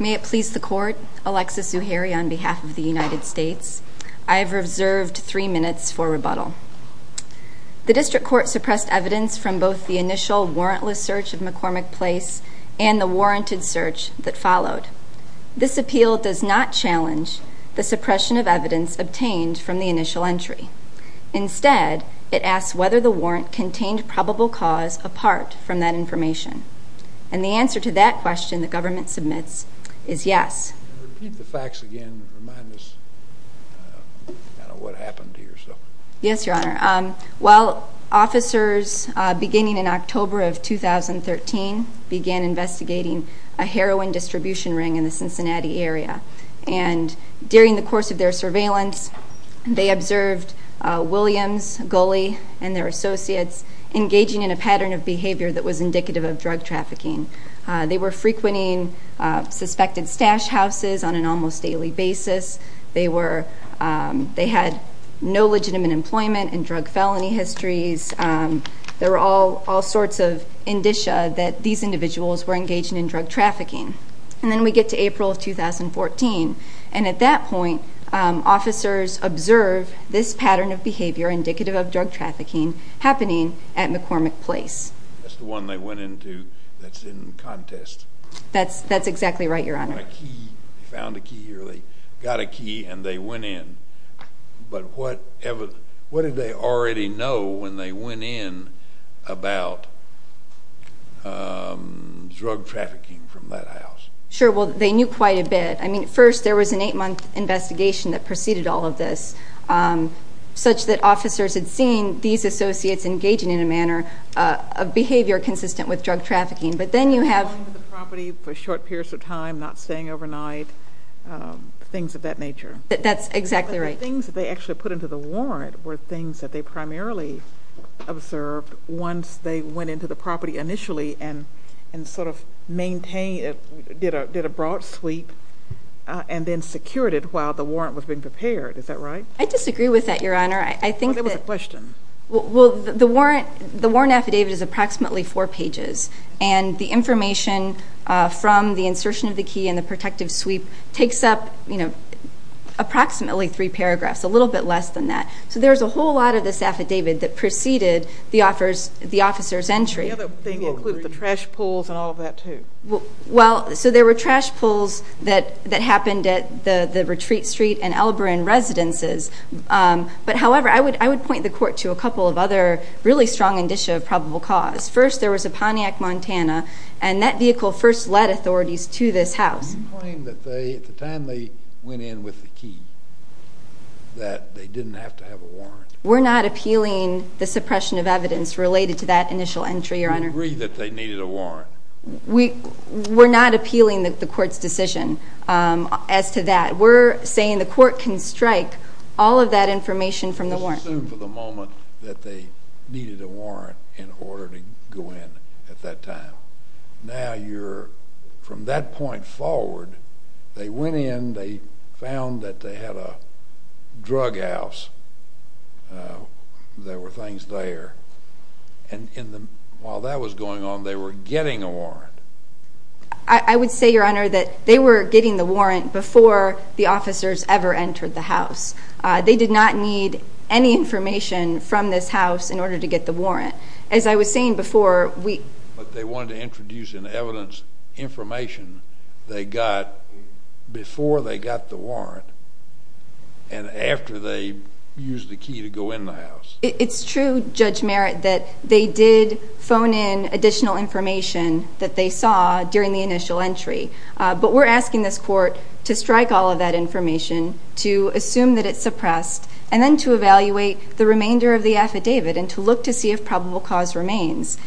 May it please the Court, Alexis Zuhairi on behalf of the United States, I have reserved three minutes for rebuttal. The District Court suppressed evidence from both the initial warrantless search of McCormick Place and the warranted search that followed. This appeal does not challenge the suppression of evidence obtained from the initial entry. Instead, it asks whether the warrant contained probable cause apart from that information. And the answer to that question the government submits is yes. Repeat the facts again and remind us kind of what happened here. Yes, Your Honor. Well, officers beginning in October of 2013 began investigating a heroin distribution ring in the Cincinnati area. And during the course of their surveillance, they observed Williams, Gulley, and their associates engaging in a pattern of behavior that was indicative of drug trafficking. They were frequenting suspected stash houses on an almost daily basis. They were, they had no legitimate employment in drug felony histories. There were all sorts of indicia that these individuals were engaging in drug trafficking. And then we get to April of 2014. And at that point, officers observed this pattern of behavior indicative of drug trafficking happening at McCormick Place. That's the one they went into that's in contest. That's exactly right, Your Honor. They found a key or they got a key and they went in. But what did they already know when they went in about drug trafficking from that house? Sure. Well, they knew quite a bit. I mean, first, there was an eight-month investigation that preceded all of this such that officers had seen these associates engaging in a manner of behavior consistent with drug trafficking. But then you have Going to the property for short periods of time, not staying overnight, things of that nature. That's exactly right. And the things that they actually put into the warrant were things that they primarily observed once they went into the property initially and sort of maintained, did a broad sweep and then secured it while the warrant was being prepared. Is that right? I disagree with that, Your Honor. I think that Well, there was a question. Well, the warrant, the warrant affidavit is approximately four pages. And the information from the insertion of the key and the protective sweep takes up, you know, approximately three paragraphs, a little bit less than that. So there's a whole lot of this affidavit that preceded the officer's entry. The other thing, it includes the trash pulls and all of that, too. Well, so there were trash pulls that happened at the Retreat Street and Elbrin residences. But however, I would point the Court to a couple of other really strong indicia of probable cause. First, there was a Pontiac Montana, and that vehicle first led authorities to this house. You claim that they, at the time they went in with the key, that they didn't have to have a warrant. We're not appealing the suppression of evidence related to that initial entry, Your Honor. You agree that they needed a warrant? We're not appealing the Court's decision as to that. We're saying the Court can strike all of that information from the warrant. Let's assume for the moment that they needed a warrant in order to go in at that time. Now, you're, from that point forward, they went in, they found that they had a drug house. There were things there. And while that was going on, they were getting a warrant. I would say, Your Honor, that they were getting the warrant before the officers ever entered the house. They did not need any information from this house in order to get the warrant. As I was saying before, we... But they wanted to introduce in evidence information they got before they got the warrant and after they used the key to go in the house. It's true, Judge Merritt, that they did phone in additional information that they saw during the initial entry. But we're asking this Court to strike all of that information, to assume that it's suppressed, and then to evaluate the remainder of the affidavit and to look to see if probable cause remains.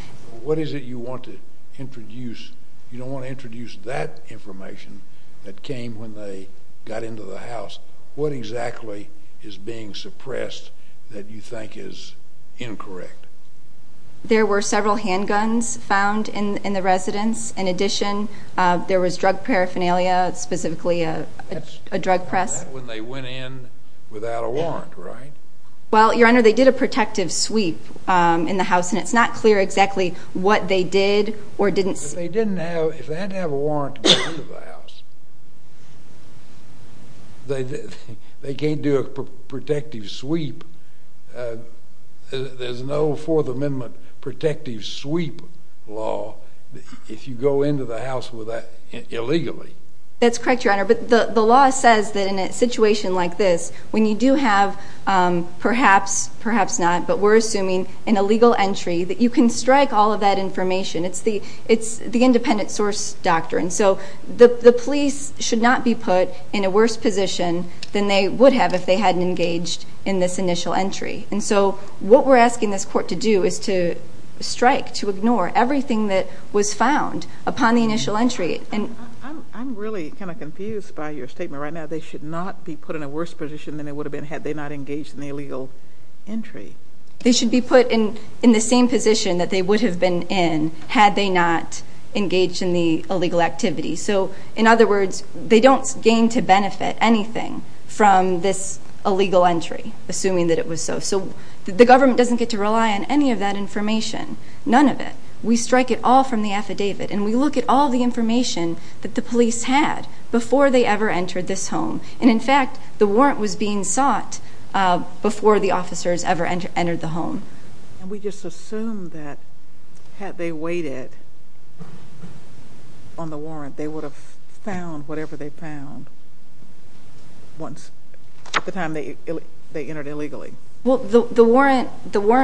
What is it you want to introduce? You don't want to introduce that information that came when they got into the house. What exactly is being suppressed that you think is incorrect? There were several handguns found in the residence. In addition, there was drug paraphernalia, specifically a drug press. That's when they went in without a warrant, right? Well, Your Honor, they did a protective sweep in the house, and it's not clear exactly what they did or didn't... If they didn't have... If they didn't have a warrant to get into the house, they can't do a protective sweep. There's no Fourth Amendment protective sweep law if you go into the house with that illegally. That's correct, Your Honor. But the law says that in a situation like this, when you do have perhaps, perhaps not, but we're assuming an illegal entry, that you can strike all of that information. It's the independent source doctrine. So the police should not be put in a worse position than they would have if they hadn't engaged in this initial entry. And so what we're asking this Court to do is to strike, to ignore everything that was found upon the initial entry. I'm really kind of confused by your statement right now. They should not be put in a worse position than they would have been had they not engaged in the illegal entry. They should be put in the same position that they would have been in had they not engaged in the illegal activity. So in other words, they don't gain to benefit anything from this illegal entry, assuming that it was so. So the government doesn't get to rely on any of that information, none of it. We strike it all from the affidavit, and we look at all the information that the police had before they ever entered this home. And in fact, the warrant was being sought before the officers ever entered the home. And we just assume that had they waited on the warrant, they would have found whatever they found once, at the time they entered illegally. Well, the warrant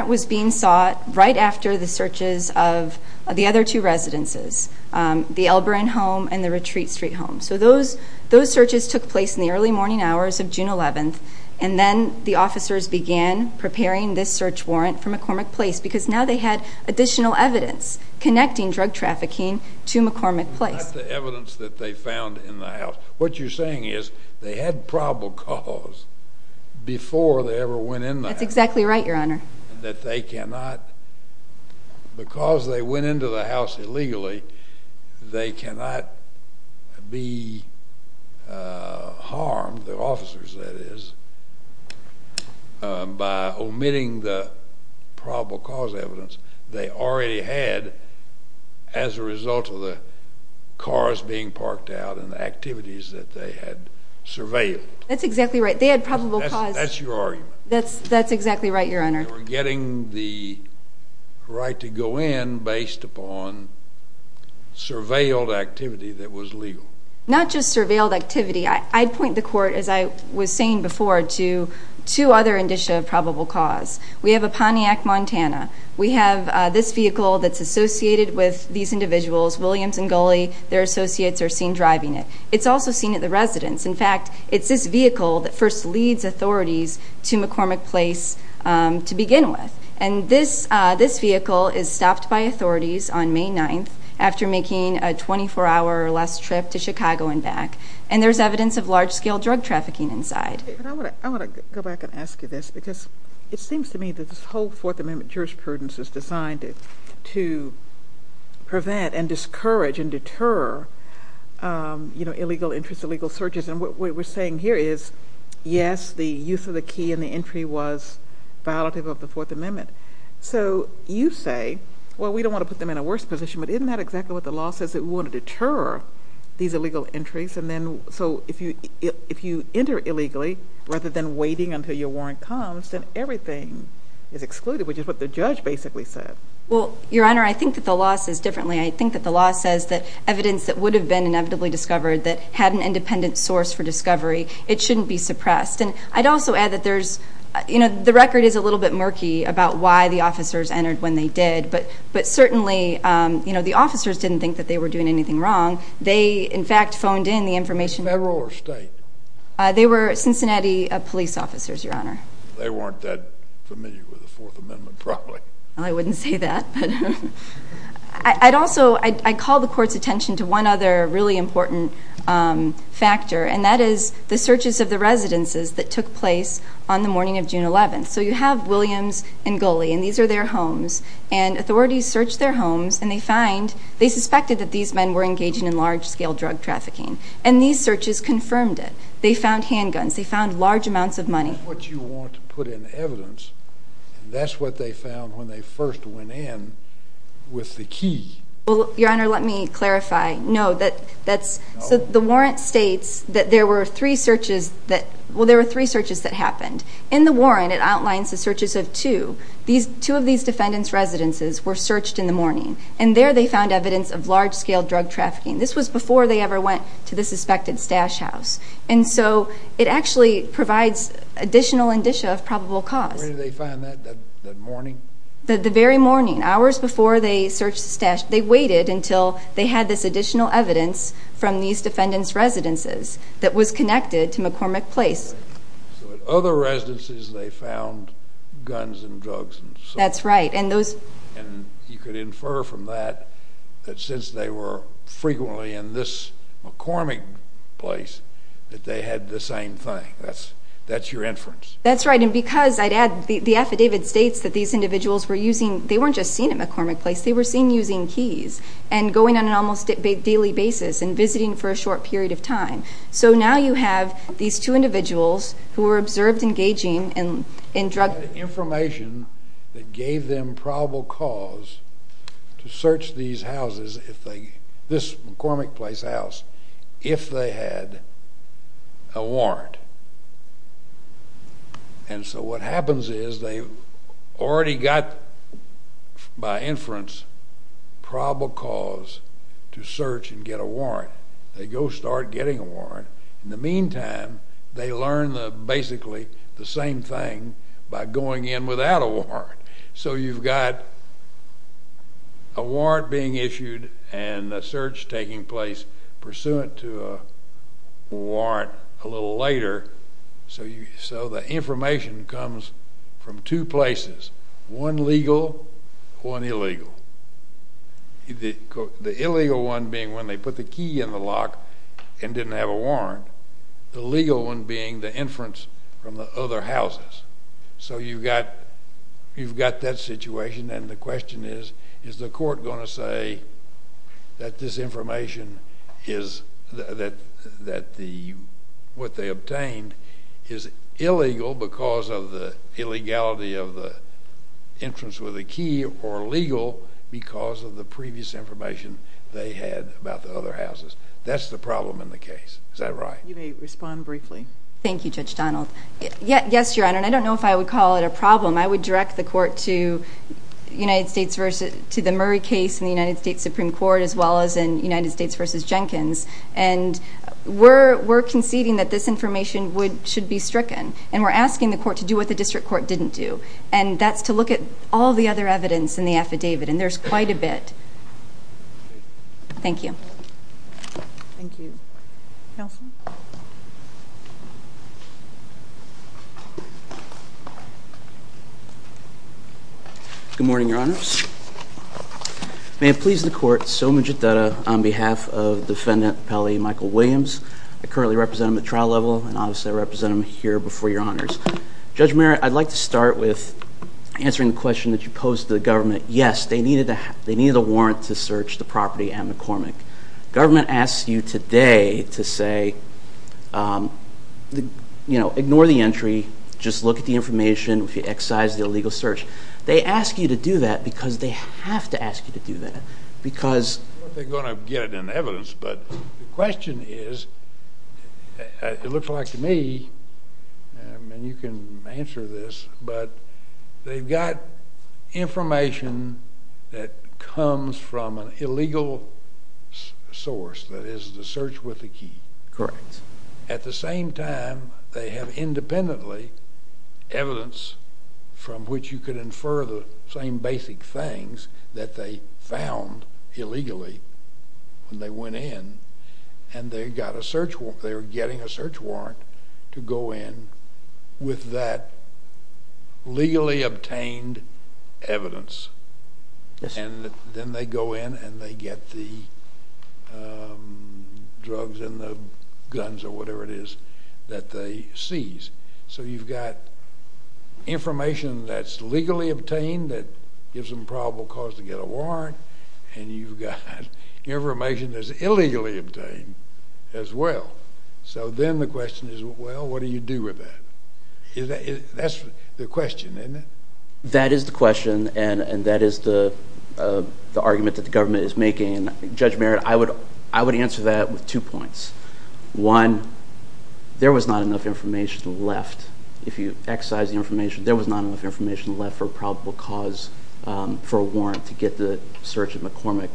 was being sought right after the searches of the other two residences, the Elbrin home and the Retreat Street home. So those searches took place in the early morning hours of June 11th, and then the officers began preparing this search warrant for McCormick Place because now they had additional evidence connecting drug trafficking to McCormick Place. Not the evidence that they found in the house. What you're saying is they had probable cause before they ever went in the house. That's exactly right, Your Honor. That they cannot, because they went into the house illegally, they cannot be harmed, the officers that is, by omitting the probable cause evidence they already had as a result of the cars being parked out and the activities that they had surveilled. That's exactly right. They had probable cause. That's your argument. That's exactly right, Your Honor. They were getting the right to go in based upon surveilled activity that was legal. Not just surveilled activity. I'd point the court, as I was saying before, to two other indicia of probable cause. We have a Pontiac Montana. We have this vehicle that's associated with these individuals, Williams and Gulley, their associates are seen driving it. It's also seen at the residence. In fact, it's this vehicle that first leads authorities to McCormick Place to begin with. And this vehicle is stopped by authorities on May 9th after making a 24-hour or less trip to Chicago and back. And there's evidence of large-scale drug trafficking inside. I want to go back and ask you this, because it seems to me that this whole Fourth Amendment jurisprudence is designed to prevent and discourage and deter, you know, illegal entries, illegal searches. And what we're saying here is, yes, the use of the key in the entry was violative of the Fourth Amendment. So you say, well, we don't want to put them in a worse position, but isn't that exactly what the law says, that we want to deter these illegal entries? So if you enter illegally, rather than waiting until your warrant comes, then everything is excluded, which is what the judge basically said. Well, Your Honor, I think that the law says differently. I think that the law says that evidence that would have been inevitably discovered that had an independent source for discovery, it shouldn't be suppressed. And I'd also add that there's, you know, the record is a little bit murky about why the officers entered when they did. But certainly, you know, the officers didn't think that they were doing anything wrong. They, in fact, phoned in the information. Federal or state? They were Cincinnati police officers, Your Honor. They weren't that familiar with the Fourth Amendment, probably. Well, I wouldn't say that. I'd also, I'd call the Court's attention to one other really important factor, and that is the searches of the residences that took place on the morning of June 11th. So you have Williams and Goley, and these are their homes. And authorities search their homes, and they find, they suspected that these men were engaging in large-scale drug trafficking. And these searches confirmed it. They found handguns. They found large amounts of money. That's what you want to put in evidence, and that's what they found when they first went in with the key. Well, Your Honor, let me clarify. No, that's, so the warrant states that there were three searches that, well, there were three searches that happened. In the warrant, it outlines the searches of two. Two of these defendants' residences were searched in the morning, and there they found evidence of large-scale drug trafficking. This was before they ever went to the suspected stash house. And so it actually provides additional indicia of probable cause. Where did they find that, that morning? The very morning, hours before they searched the stash. They waited until they had this additional evidence from these defendants' residences that was connected to McCormick Place. So at other residences, they found guns and drugs and so on. That's right. And those... And you could infer from that that since they were frequently in this McCormick Place, that they had the same thing. That's your inference. That's right. And because, I'd add, the affidavit states that these individuals were using, they weren't just seen at McCormick Place, they were seen using keys and going on an almost daily basis and visiting for a short period of time. So now you have these two individuals who were observed engaging in drug... They had information that gave them probable cause to search these houses, this McCormick Place house, if they had a warrant. And so what happens is they already got, by inference, probable cause to search and get a warrant. They go start getting a warrant. In the meantime, they learn basically the same thing by going in without a warrant. So you've got a warrant being issued and a search taking place pursuant to a warrant a little later. So the information comes from two places, one legal, one illegal. The illegal one being when they put the key in the lock and didn't have a warrant. The legal one being the inference from the other houses. So you've got that situation and the question is, is the court going to say that this information is, that what they obtained is illegal because of the illegality of the inference with the key or legal because of the previous information they had about the other houses. That's the problem in the case. Is that right? You may respond briefly. Thank you, Judge Donald. Yes, Your Honor, and I don't know if I would call it a problem. I would direct the court to the Murray case in the United States Supreme Court as well as in United States v. Jenkins. And we're conceding that this information should be stricken and we're asking the court to do what the district court didn't do and that's to look at all the other evidence in the affidavit and there's quite a bit. Thank you. Thank you. Counsel? Good morning, Your Honors. May it please the court, so magit data on behalf of Defendant Pelley Michael Williams. I currently represent him at trial level and obviously I represent him here before Your Honors. Judge Murray, I'd like to start with answering the question that you posed to the government. Yes, they needed a warrant to search the property at McCormick. The government asks you today to say, you know, ignore the entry, just look at the information, excise the illegal search. They ask you to do that because they have to ask you to do that because... They're going to get it in evidence, but the question is, it looks like to me, and you can answer this, but they've got information that comes from an illegal source, that is the search with the key. Correct. At the same time, they have independently evidence from which you could infer the same basic things that they found illegally when they went in and they're getting a search warrant to go in with that legally obtained evidence. Yes, sir. And then they go in and they get the drugs and the guns or whatever it is that they seize. So you've got information that's legally obtained that gives them probable cause to get a warrant and you've got information that's illegally obtained as well. So then the question is, well, what do you do with that? That's the question, isn't it? That is the question and that is the argument that the government is making. Judge Merritt, I would answer that with two points. One, there was not enough information left. If you excise the information, there was not enough information left for probable cause for a warrant to get the search of McCormick.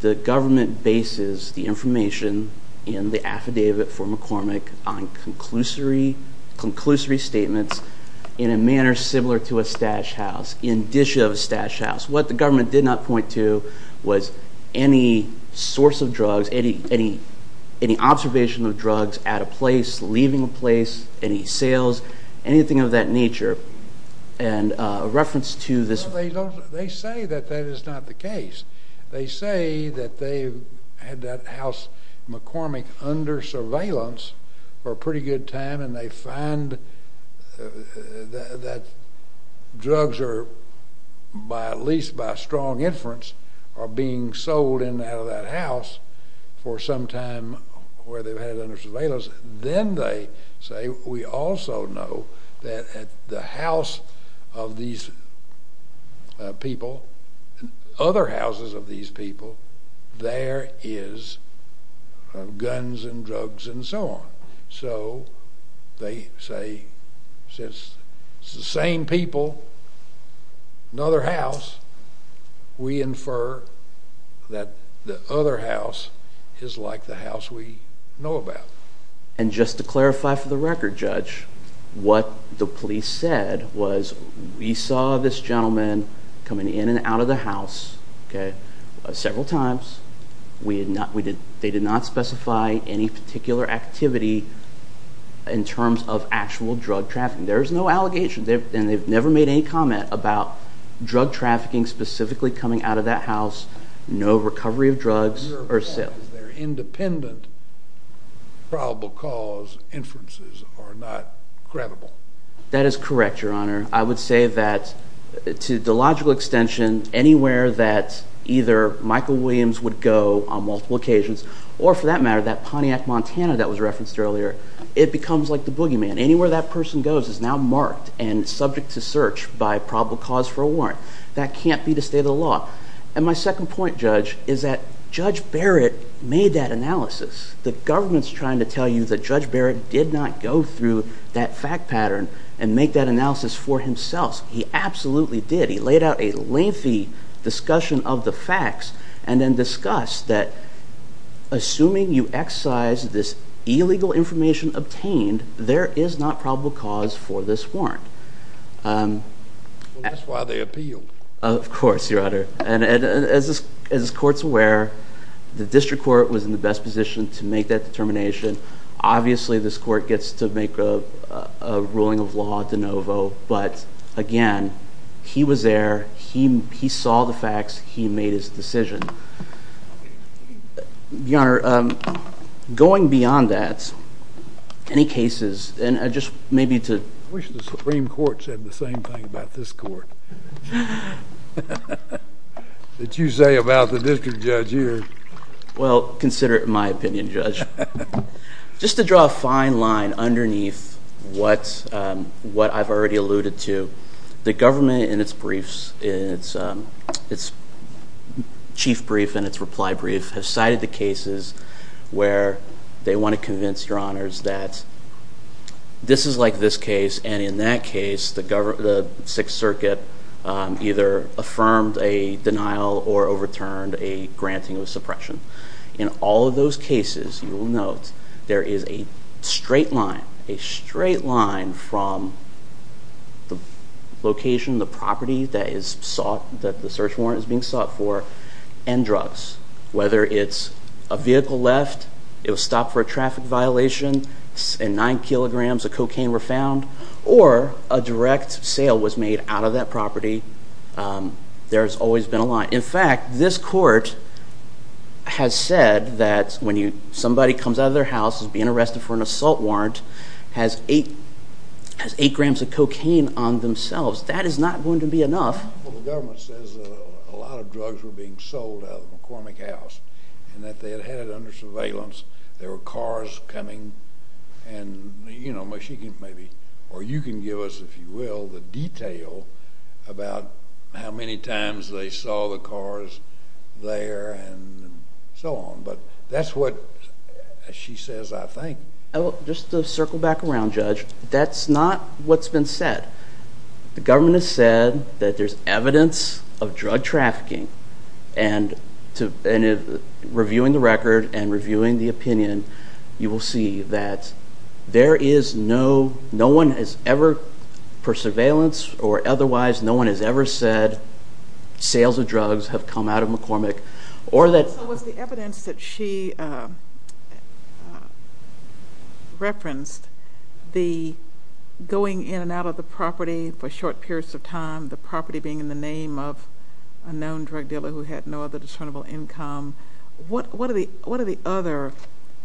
The government bases the information in the affidavit for McCormick on conclusory statements in a manner similar to a stash house, indicia of a stash house. What the government did not point to was any source of drugs, any observation of drugs at a place, leaving a place, any sales, anything of that nature. They say that that is not the case. They say that they had that house McCormick under surveillance for a pretty good time and they find that drugs are, at least by strong inference, are being sold in and out of that house for some time where they've had it under surveillance. Then they say, we also know that at the house of these people, other houses of these people, there is guns and drugs and so on. They say, since it's the same people, another house, we infer that the other house is like the house we know about. And just to clarify for the record, Judge, what the police said was we saw this gentleman coming in and out of the house several times. They did not specify any particular activity in terms of actual drug trafficking. There is no allegation and they've never made any comment about drug trafficking specifically coming out of that house, no recovery of drugs or sales. Your point is their independent probable cause inferences are not credible. That is correct, Your Honor. I would say that to the logical extension, anywhere that either Michael Williams would go on multiple occasions or, for that matter, that Pontiac Montana that was referenced earlier, it becomes like the boogeyman. Anywhere that person goes is now marked and subject to search by probable cause for a warrant. That can't be the state of the law. And my second point, Judge, is that Judge Barrett made that analysis. The government's trying to tell you that Judge Barrett did not go through that fact pattern and make that analysis for himself. He absolutely did. He laid out a lengthy discussion of the facts and then discussed that assuming you excise this illegal information obtained, there is not probable cause for this warrant. That's why they appealed. Of course, Your Honor. And as this court's aware, the district court was in the best position to make that determination. Obviously, this court gets to make a ruling of law de novo. But again, he was there. He saw the facts. He made his decision. Your Honor, going beyond that, any cases? I wish the Supreme Court said the same thing about this court. That you say about the district judge here. Well, consider it my opinion, Judge. Just to draw a fine line underneath what I've already alluded to, the government in its briefs, its chief brief and its reply brief, has cited the cases where they want to convince Your Honors that this is like this case and in that case the Sixth Circuit either affirmed a denial or overturned a granting of suppression. In all of those cases, you will note, there is a straight line, a straight line from the location, the property that the search warrant is being sought for, and drugs. Whether it's a vehicle left, it was stopped for a traffic violation, nine kilograms of cocaine were found, or a direct sale was made out of that property, there has always been a line. In fact, this court has said that when somebody comes out of their house, is being arrested for an assault warrant, has eight grams of cocaine on themselves, that is not going to be enough. Well, the government says that a lot of drugs were being sold out of the McCormick house and that they had had it under surveillance. There were cars coming and, you know, she can maybe, or you can give us, if you will, the detail about how many times they saw the cars there and so on. But that's what she says, I think. Just to circle back around, Judge, that's not what's been said. The government has said that there's evidence of drug trafficking, and reviewing the record and reviewing the opinion, you will see that there is no, no one has ever, for surveillance or otherwise, no one has ever said, sales of drugs have come out of McCormick. So was the evidence that she referenced, the going in and out of the property for short periods of time, the property being in the name of a known drug dealer who had no other discernible income, what are the other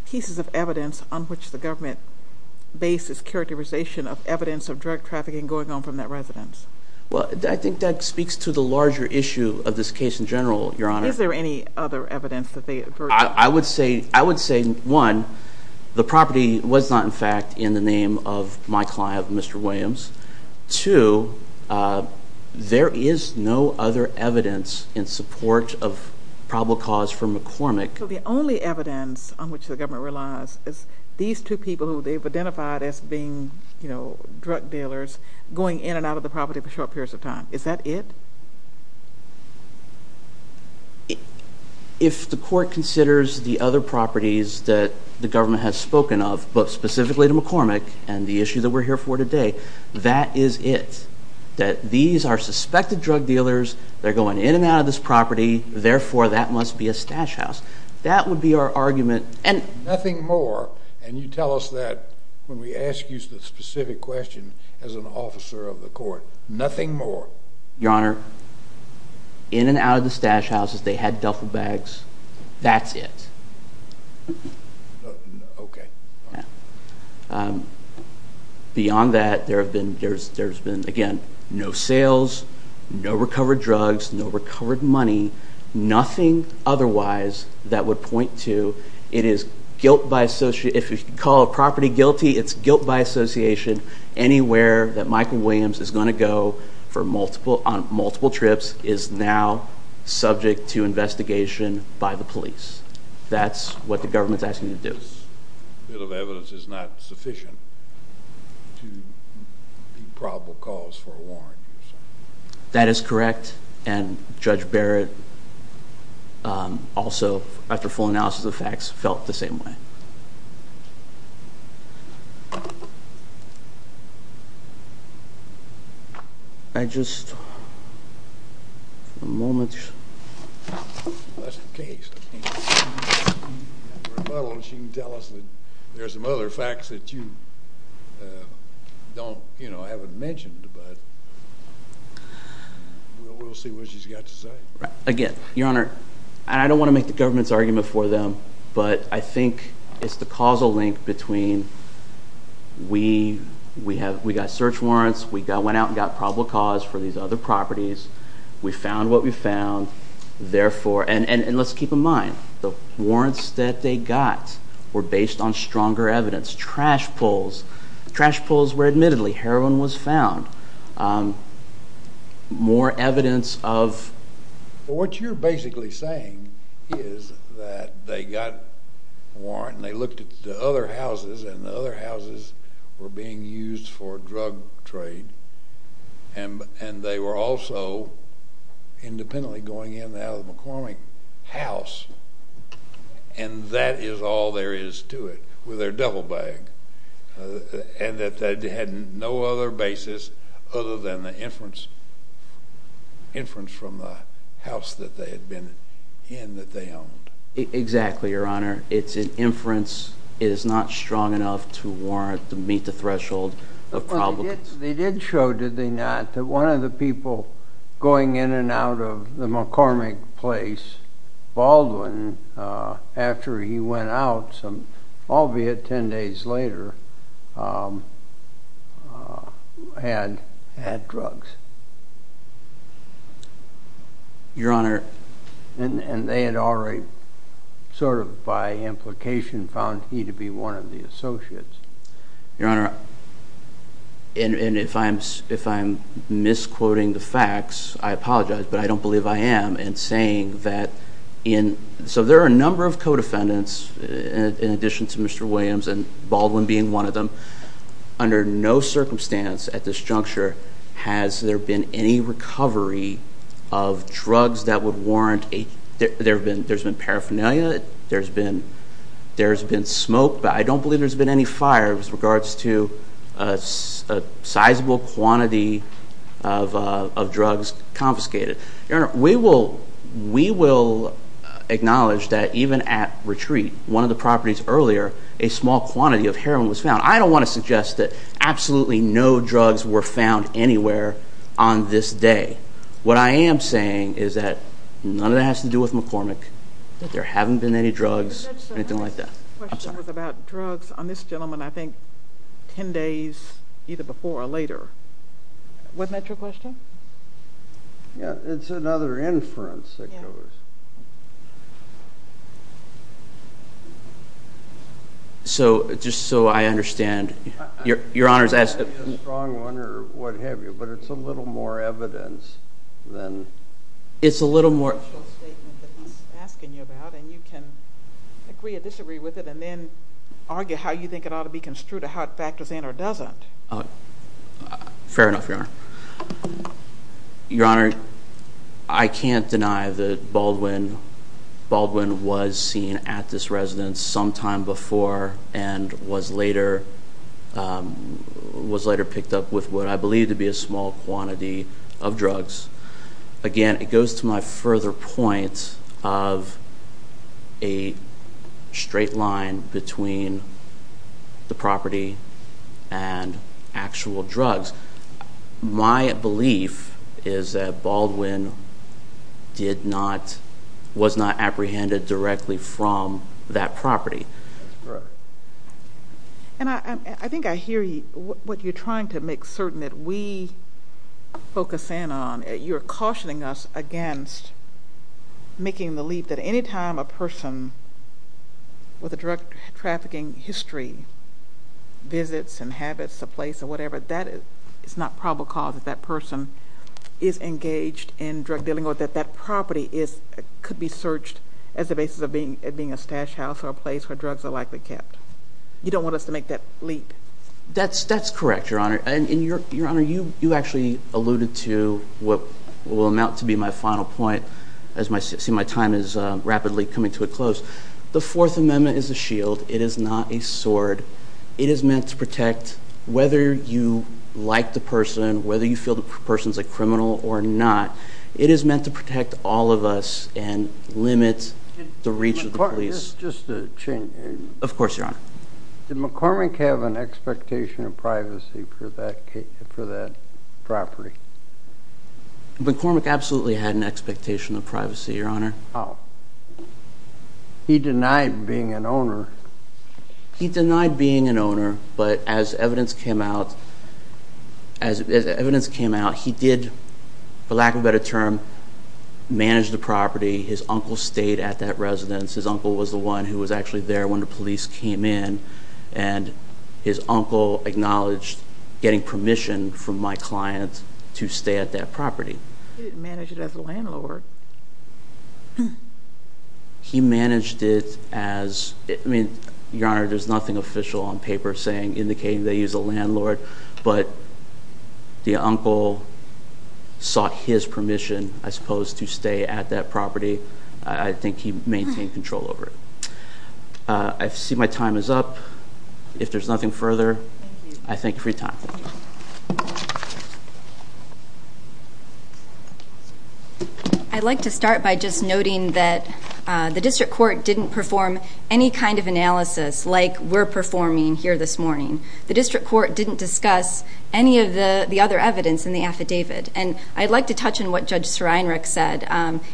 pieces of evidence on which the government bases characterization of evidence of drug trafficking going on from that residence? Well, I think that speaks to the larger issue of this case in general, Your Honor. Is there any other evidence that they have heard? I would say, one, the property was not, in fact, in the name of my client, Mr. Williams. Two, there is no other evidence in support of probable cause for McCormick. So the only evidence on which the government relies is these two people who they've identified as being, you know, drug dealers, going in and out of the property for short periods of time. Is that it? If the court considers the other properties that the government has spoken of, but specifically to McCormick and the issue that we're here for today, that is it, that these are suspected drug dealers. They're going in and out of this property. Therefore, that must be a stash house. That would be our argument. Nothing more, and you tell us that when we ask you the specific question as an officer of the court. Nothing more. Your Honor, in and out of the stash houses, they had duffel bags. That's it. Okay. Beyond that, there have been, again, no sales, no recovered drugs, no recovered money, nothing otherwise that would point to, it is guilt by association. If you call a property guilty, it's guilt by association. Anywhere that Michael Williams is going to go on multiple trips is now subject to investigation by the police. That's what the government's asking you to do. A bit of evidence is not sufficient to be probable cause for a warrant. That is correct, and Judge Barrett also, after full analysis of the facts, felt the same way. I just, for a moment. That's the case. If you have a rebuttal, she can tell us that there are some other facts that you haven't mentioned, but we'll see what she's got to say. Again, Your Honor, I don't want to make the government's argument for them, but I think it's the causal link between we got search warrants, we went out and got probable cause for these other properties, we found what we found, therefore, and let's keep in mind, the warrants that they got were based on stronger evidence. Trash pulls. Trash pulls where admittedly heroin was found. More evidence of... What you're basically saying is that they got a warrant and they looked at the other houses and the other houses were being used for drug trade and they were also independently going in and out of the McCormick house and that is all there is to it with their devil bag and that they had no other basis other than the inference from the house that they had been in that they owned. Exactly, Your Honor. It's an inference. It is not strong enough to warrant to meet the threshold of probable cause. They did show, did they not, that one of the people going in and out of the McCormick place, Baldwin, after he went out, albeit 10 days later, had drugs. Your Honor... And they had already, sort of by implication, found he to be one of the associates. Your Honor, and if I'm misquoting the facts, I apologize, but I don't believe I am in saying that... So there are a number of co-defendants, in addition to Mr. Williams and Baldwin being one of them, under no circumstance at this juncture has there been any recovery of drugs that would warrant... There's been paraphernalia, there's been smoke, but I don't believe there's been any fire with regards to a sizable quantity of drugs confiscated. Your Honor, we will acknowledge that even at retreat, one of the properties earlier, a small quantity of heroin was found. I don't want to suggest that absolutely no drugs were found anywhere on this day. What I am saying is that none of that has to do with McCormick, that there haven't been any drugs, anything like that. The question was about drugs on this gentleman, I think, 10 days, either before or later. Wasn't that your question? Yeah, it's another inference that goes... So, just so I understand, Your Honor's asking... ...strong one or what have you, but it's a little more evidence than... It's a little more... ...that he's asking you about, and you can agree or disagree with it and then argue how you think it ought to be construed or how it factors in or doesn't. Fair enough, Your Honor. Your Honor, I can't deny that Baldwin was seen at this residence sometime before and was later picked up with what I believe to be a small quantity of drugs. Again, it goes to my further point of a straight line between the property and actual drugs. My belief is that Baldwin was not apprehended directly from that property. That's correct. And I think I hear what you're trying to make certain that we focus in on. You're cautioning us against making the leap that any time a person with a drug trafficking history, visits, inhabits a place or whatever, that is not probable cause that that person is engaged in drug dealing or that that property could be searched as a basis of it being a stash house or a place where drugs are likely kept. You don't want us to make that leap. That's correct, Your Honor, and Your Honor, you actually alluded to what will amount to be my final point as my time is rapidly coming to a close. The Fourth Amendment is a shield. It is not a sword. It is meant to protect whether you like the person, whether you feel the person's a criminal or not. It is meant to protect all of us and limit the reach of the police. Just a change. Of course, Your Honor. Did McCormick have an expectation of privacy for that property? McCormick absolutely had an expectation of privacy, Your Honor. How? He denied being an owner. He denied being an owner, but as evidence came out, he did, for lack of a better term, manage the property. His uncle stayed at that residence. His uncle was the one who was actually there when the police came in, and his uncle acknowledged getting permission from my client to stay at that property. He didn't manage it as a landlord. He managed it as, I mean, Your Honor, there's nothing official on paper saying, indicating that he was a landlord, but the uncle sought his permission, I suppose, to stay at that property. I think he maintained control over it. I see my time is up. If there's nothing further, I thank you for your time. Thank you. I'd like to start by just noting that the district court didn't perform any kind of analysis like we're performing here this morning. The district court didn't discuss any of the other evidence in the affidavit, and I'd like to touch on what Judge Sreinrich said.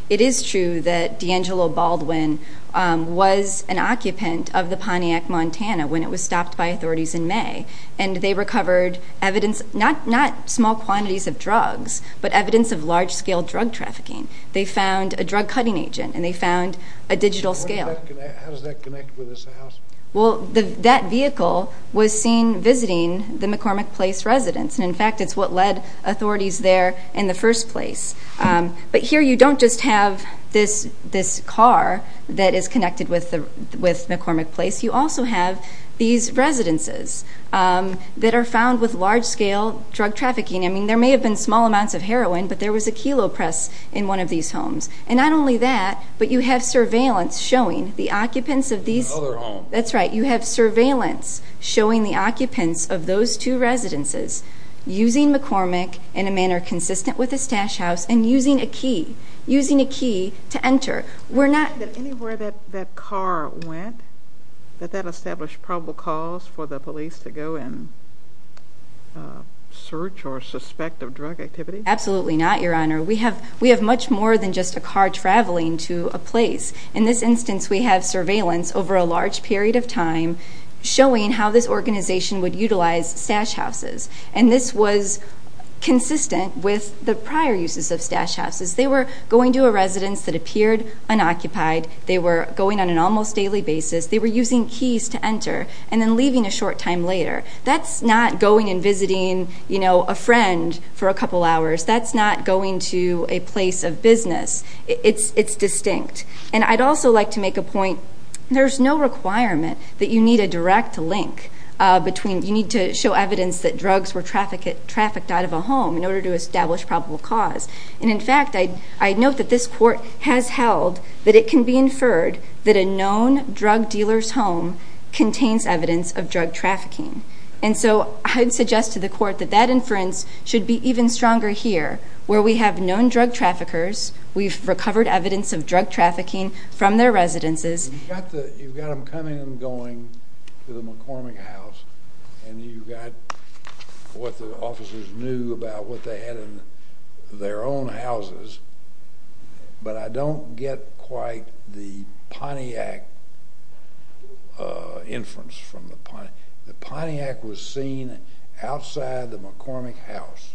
It is true that D'Angelo Baldwin was an occupant of the Pontiac Montana when it was stopped by authorities in May, and they recovered evidence, not small quantities of drugs, but evidence of large-scale drug trafficking. They found a drug-cutting agent, and they found a digital scale. How does that connect with this house? Well, that vehicle was seen visiting the McCormick Place residence, and, in fact, it's what led authorities there in the first place. But here you don't just have this car that is connected with McCormick Place. You also have these residences that are found with large-scale drug trafficking. I mean, there may have been small amounts of heroin, but there was a kilo press in one of these homes. And not only that, but you have surveillance showing the occupants of these. Another home. That's right. You have surveillance showing the occupants of those two residences using McCormick in a manner consistent with this stash house and using a key, using a key to enter. Anywhere that that car went, did that establish probable cause for the police to go and search or suspect of drug activity? Absolutely not, Your Honor. We have much more than just a car traveling to a place. In this instance, we have surveillance over a large period of time showing how this organization would utilize stash houses, and this was consistent with the prior uses of stash houses. They were going to a residence that appeared unoccupied. They were going on an almost daily basis. They were using keys to enter and then leaving a short time later. That's not going and visiting a friend for a couple hours. That's not going to a place of business. It's distinct. And I'd also like to make a point, there's no requirement that you need a direct link between you need to show evidence that drugs were trafficked out of a home in order to establish probable cause. And in fact, I note that this court has held that it can be inferred that a known drug dealer's home contains evidence of drug trafficking. And so I'd suggest to the court that that inference should be even stronger here, where we have known drug traffickers, we've recovered evidence of drug trafficking from their residences. You've got them coming and going to the McCormick house, and you've got what the officers knew about what they had in their own houses. But I don't get quite the Pontiac inference from the Pontiac. The Pontiac was seen outside the McCormick house.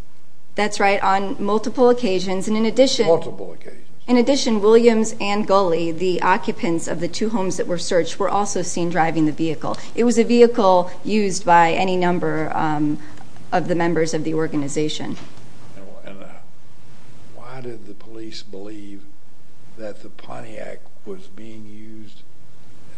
That's right, on multiple occasions. Multiple occasions. In addition, Williams and Gulley, the occupants of the two homes that were searched, were also seen driving the vehicle. It was a vehicle used by any number of the members of the organization. And why did the police believe that the Pontiac was being used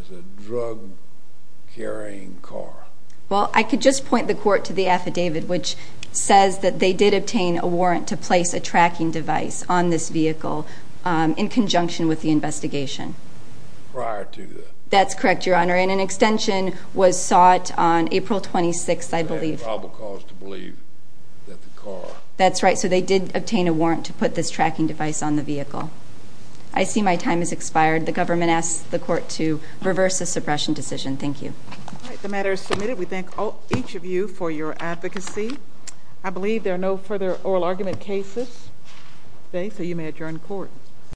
as a drug-carrying car? Well, I could just point the court to the affidavit, which says that they did obtain a warrant to place a tracking device on this vehicle in conjunction with the investigation. Prior to that. That's correct, Your Honor. And an extension was sought on April 26th, I believe. They had probable cause to believe that the car... That's right. So they did obtain a warrant to put this tracking device on the vehicle. I see my time has expired. The government asks the court to reverse the suppression decision. Thank you. All right. The matter is submitted. We thank each of you for your advocacy. I believe there are no further oral argument cases. Thank you. You may adjourn court.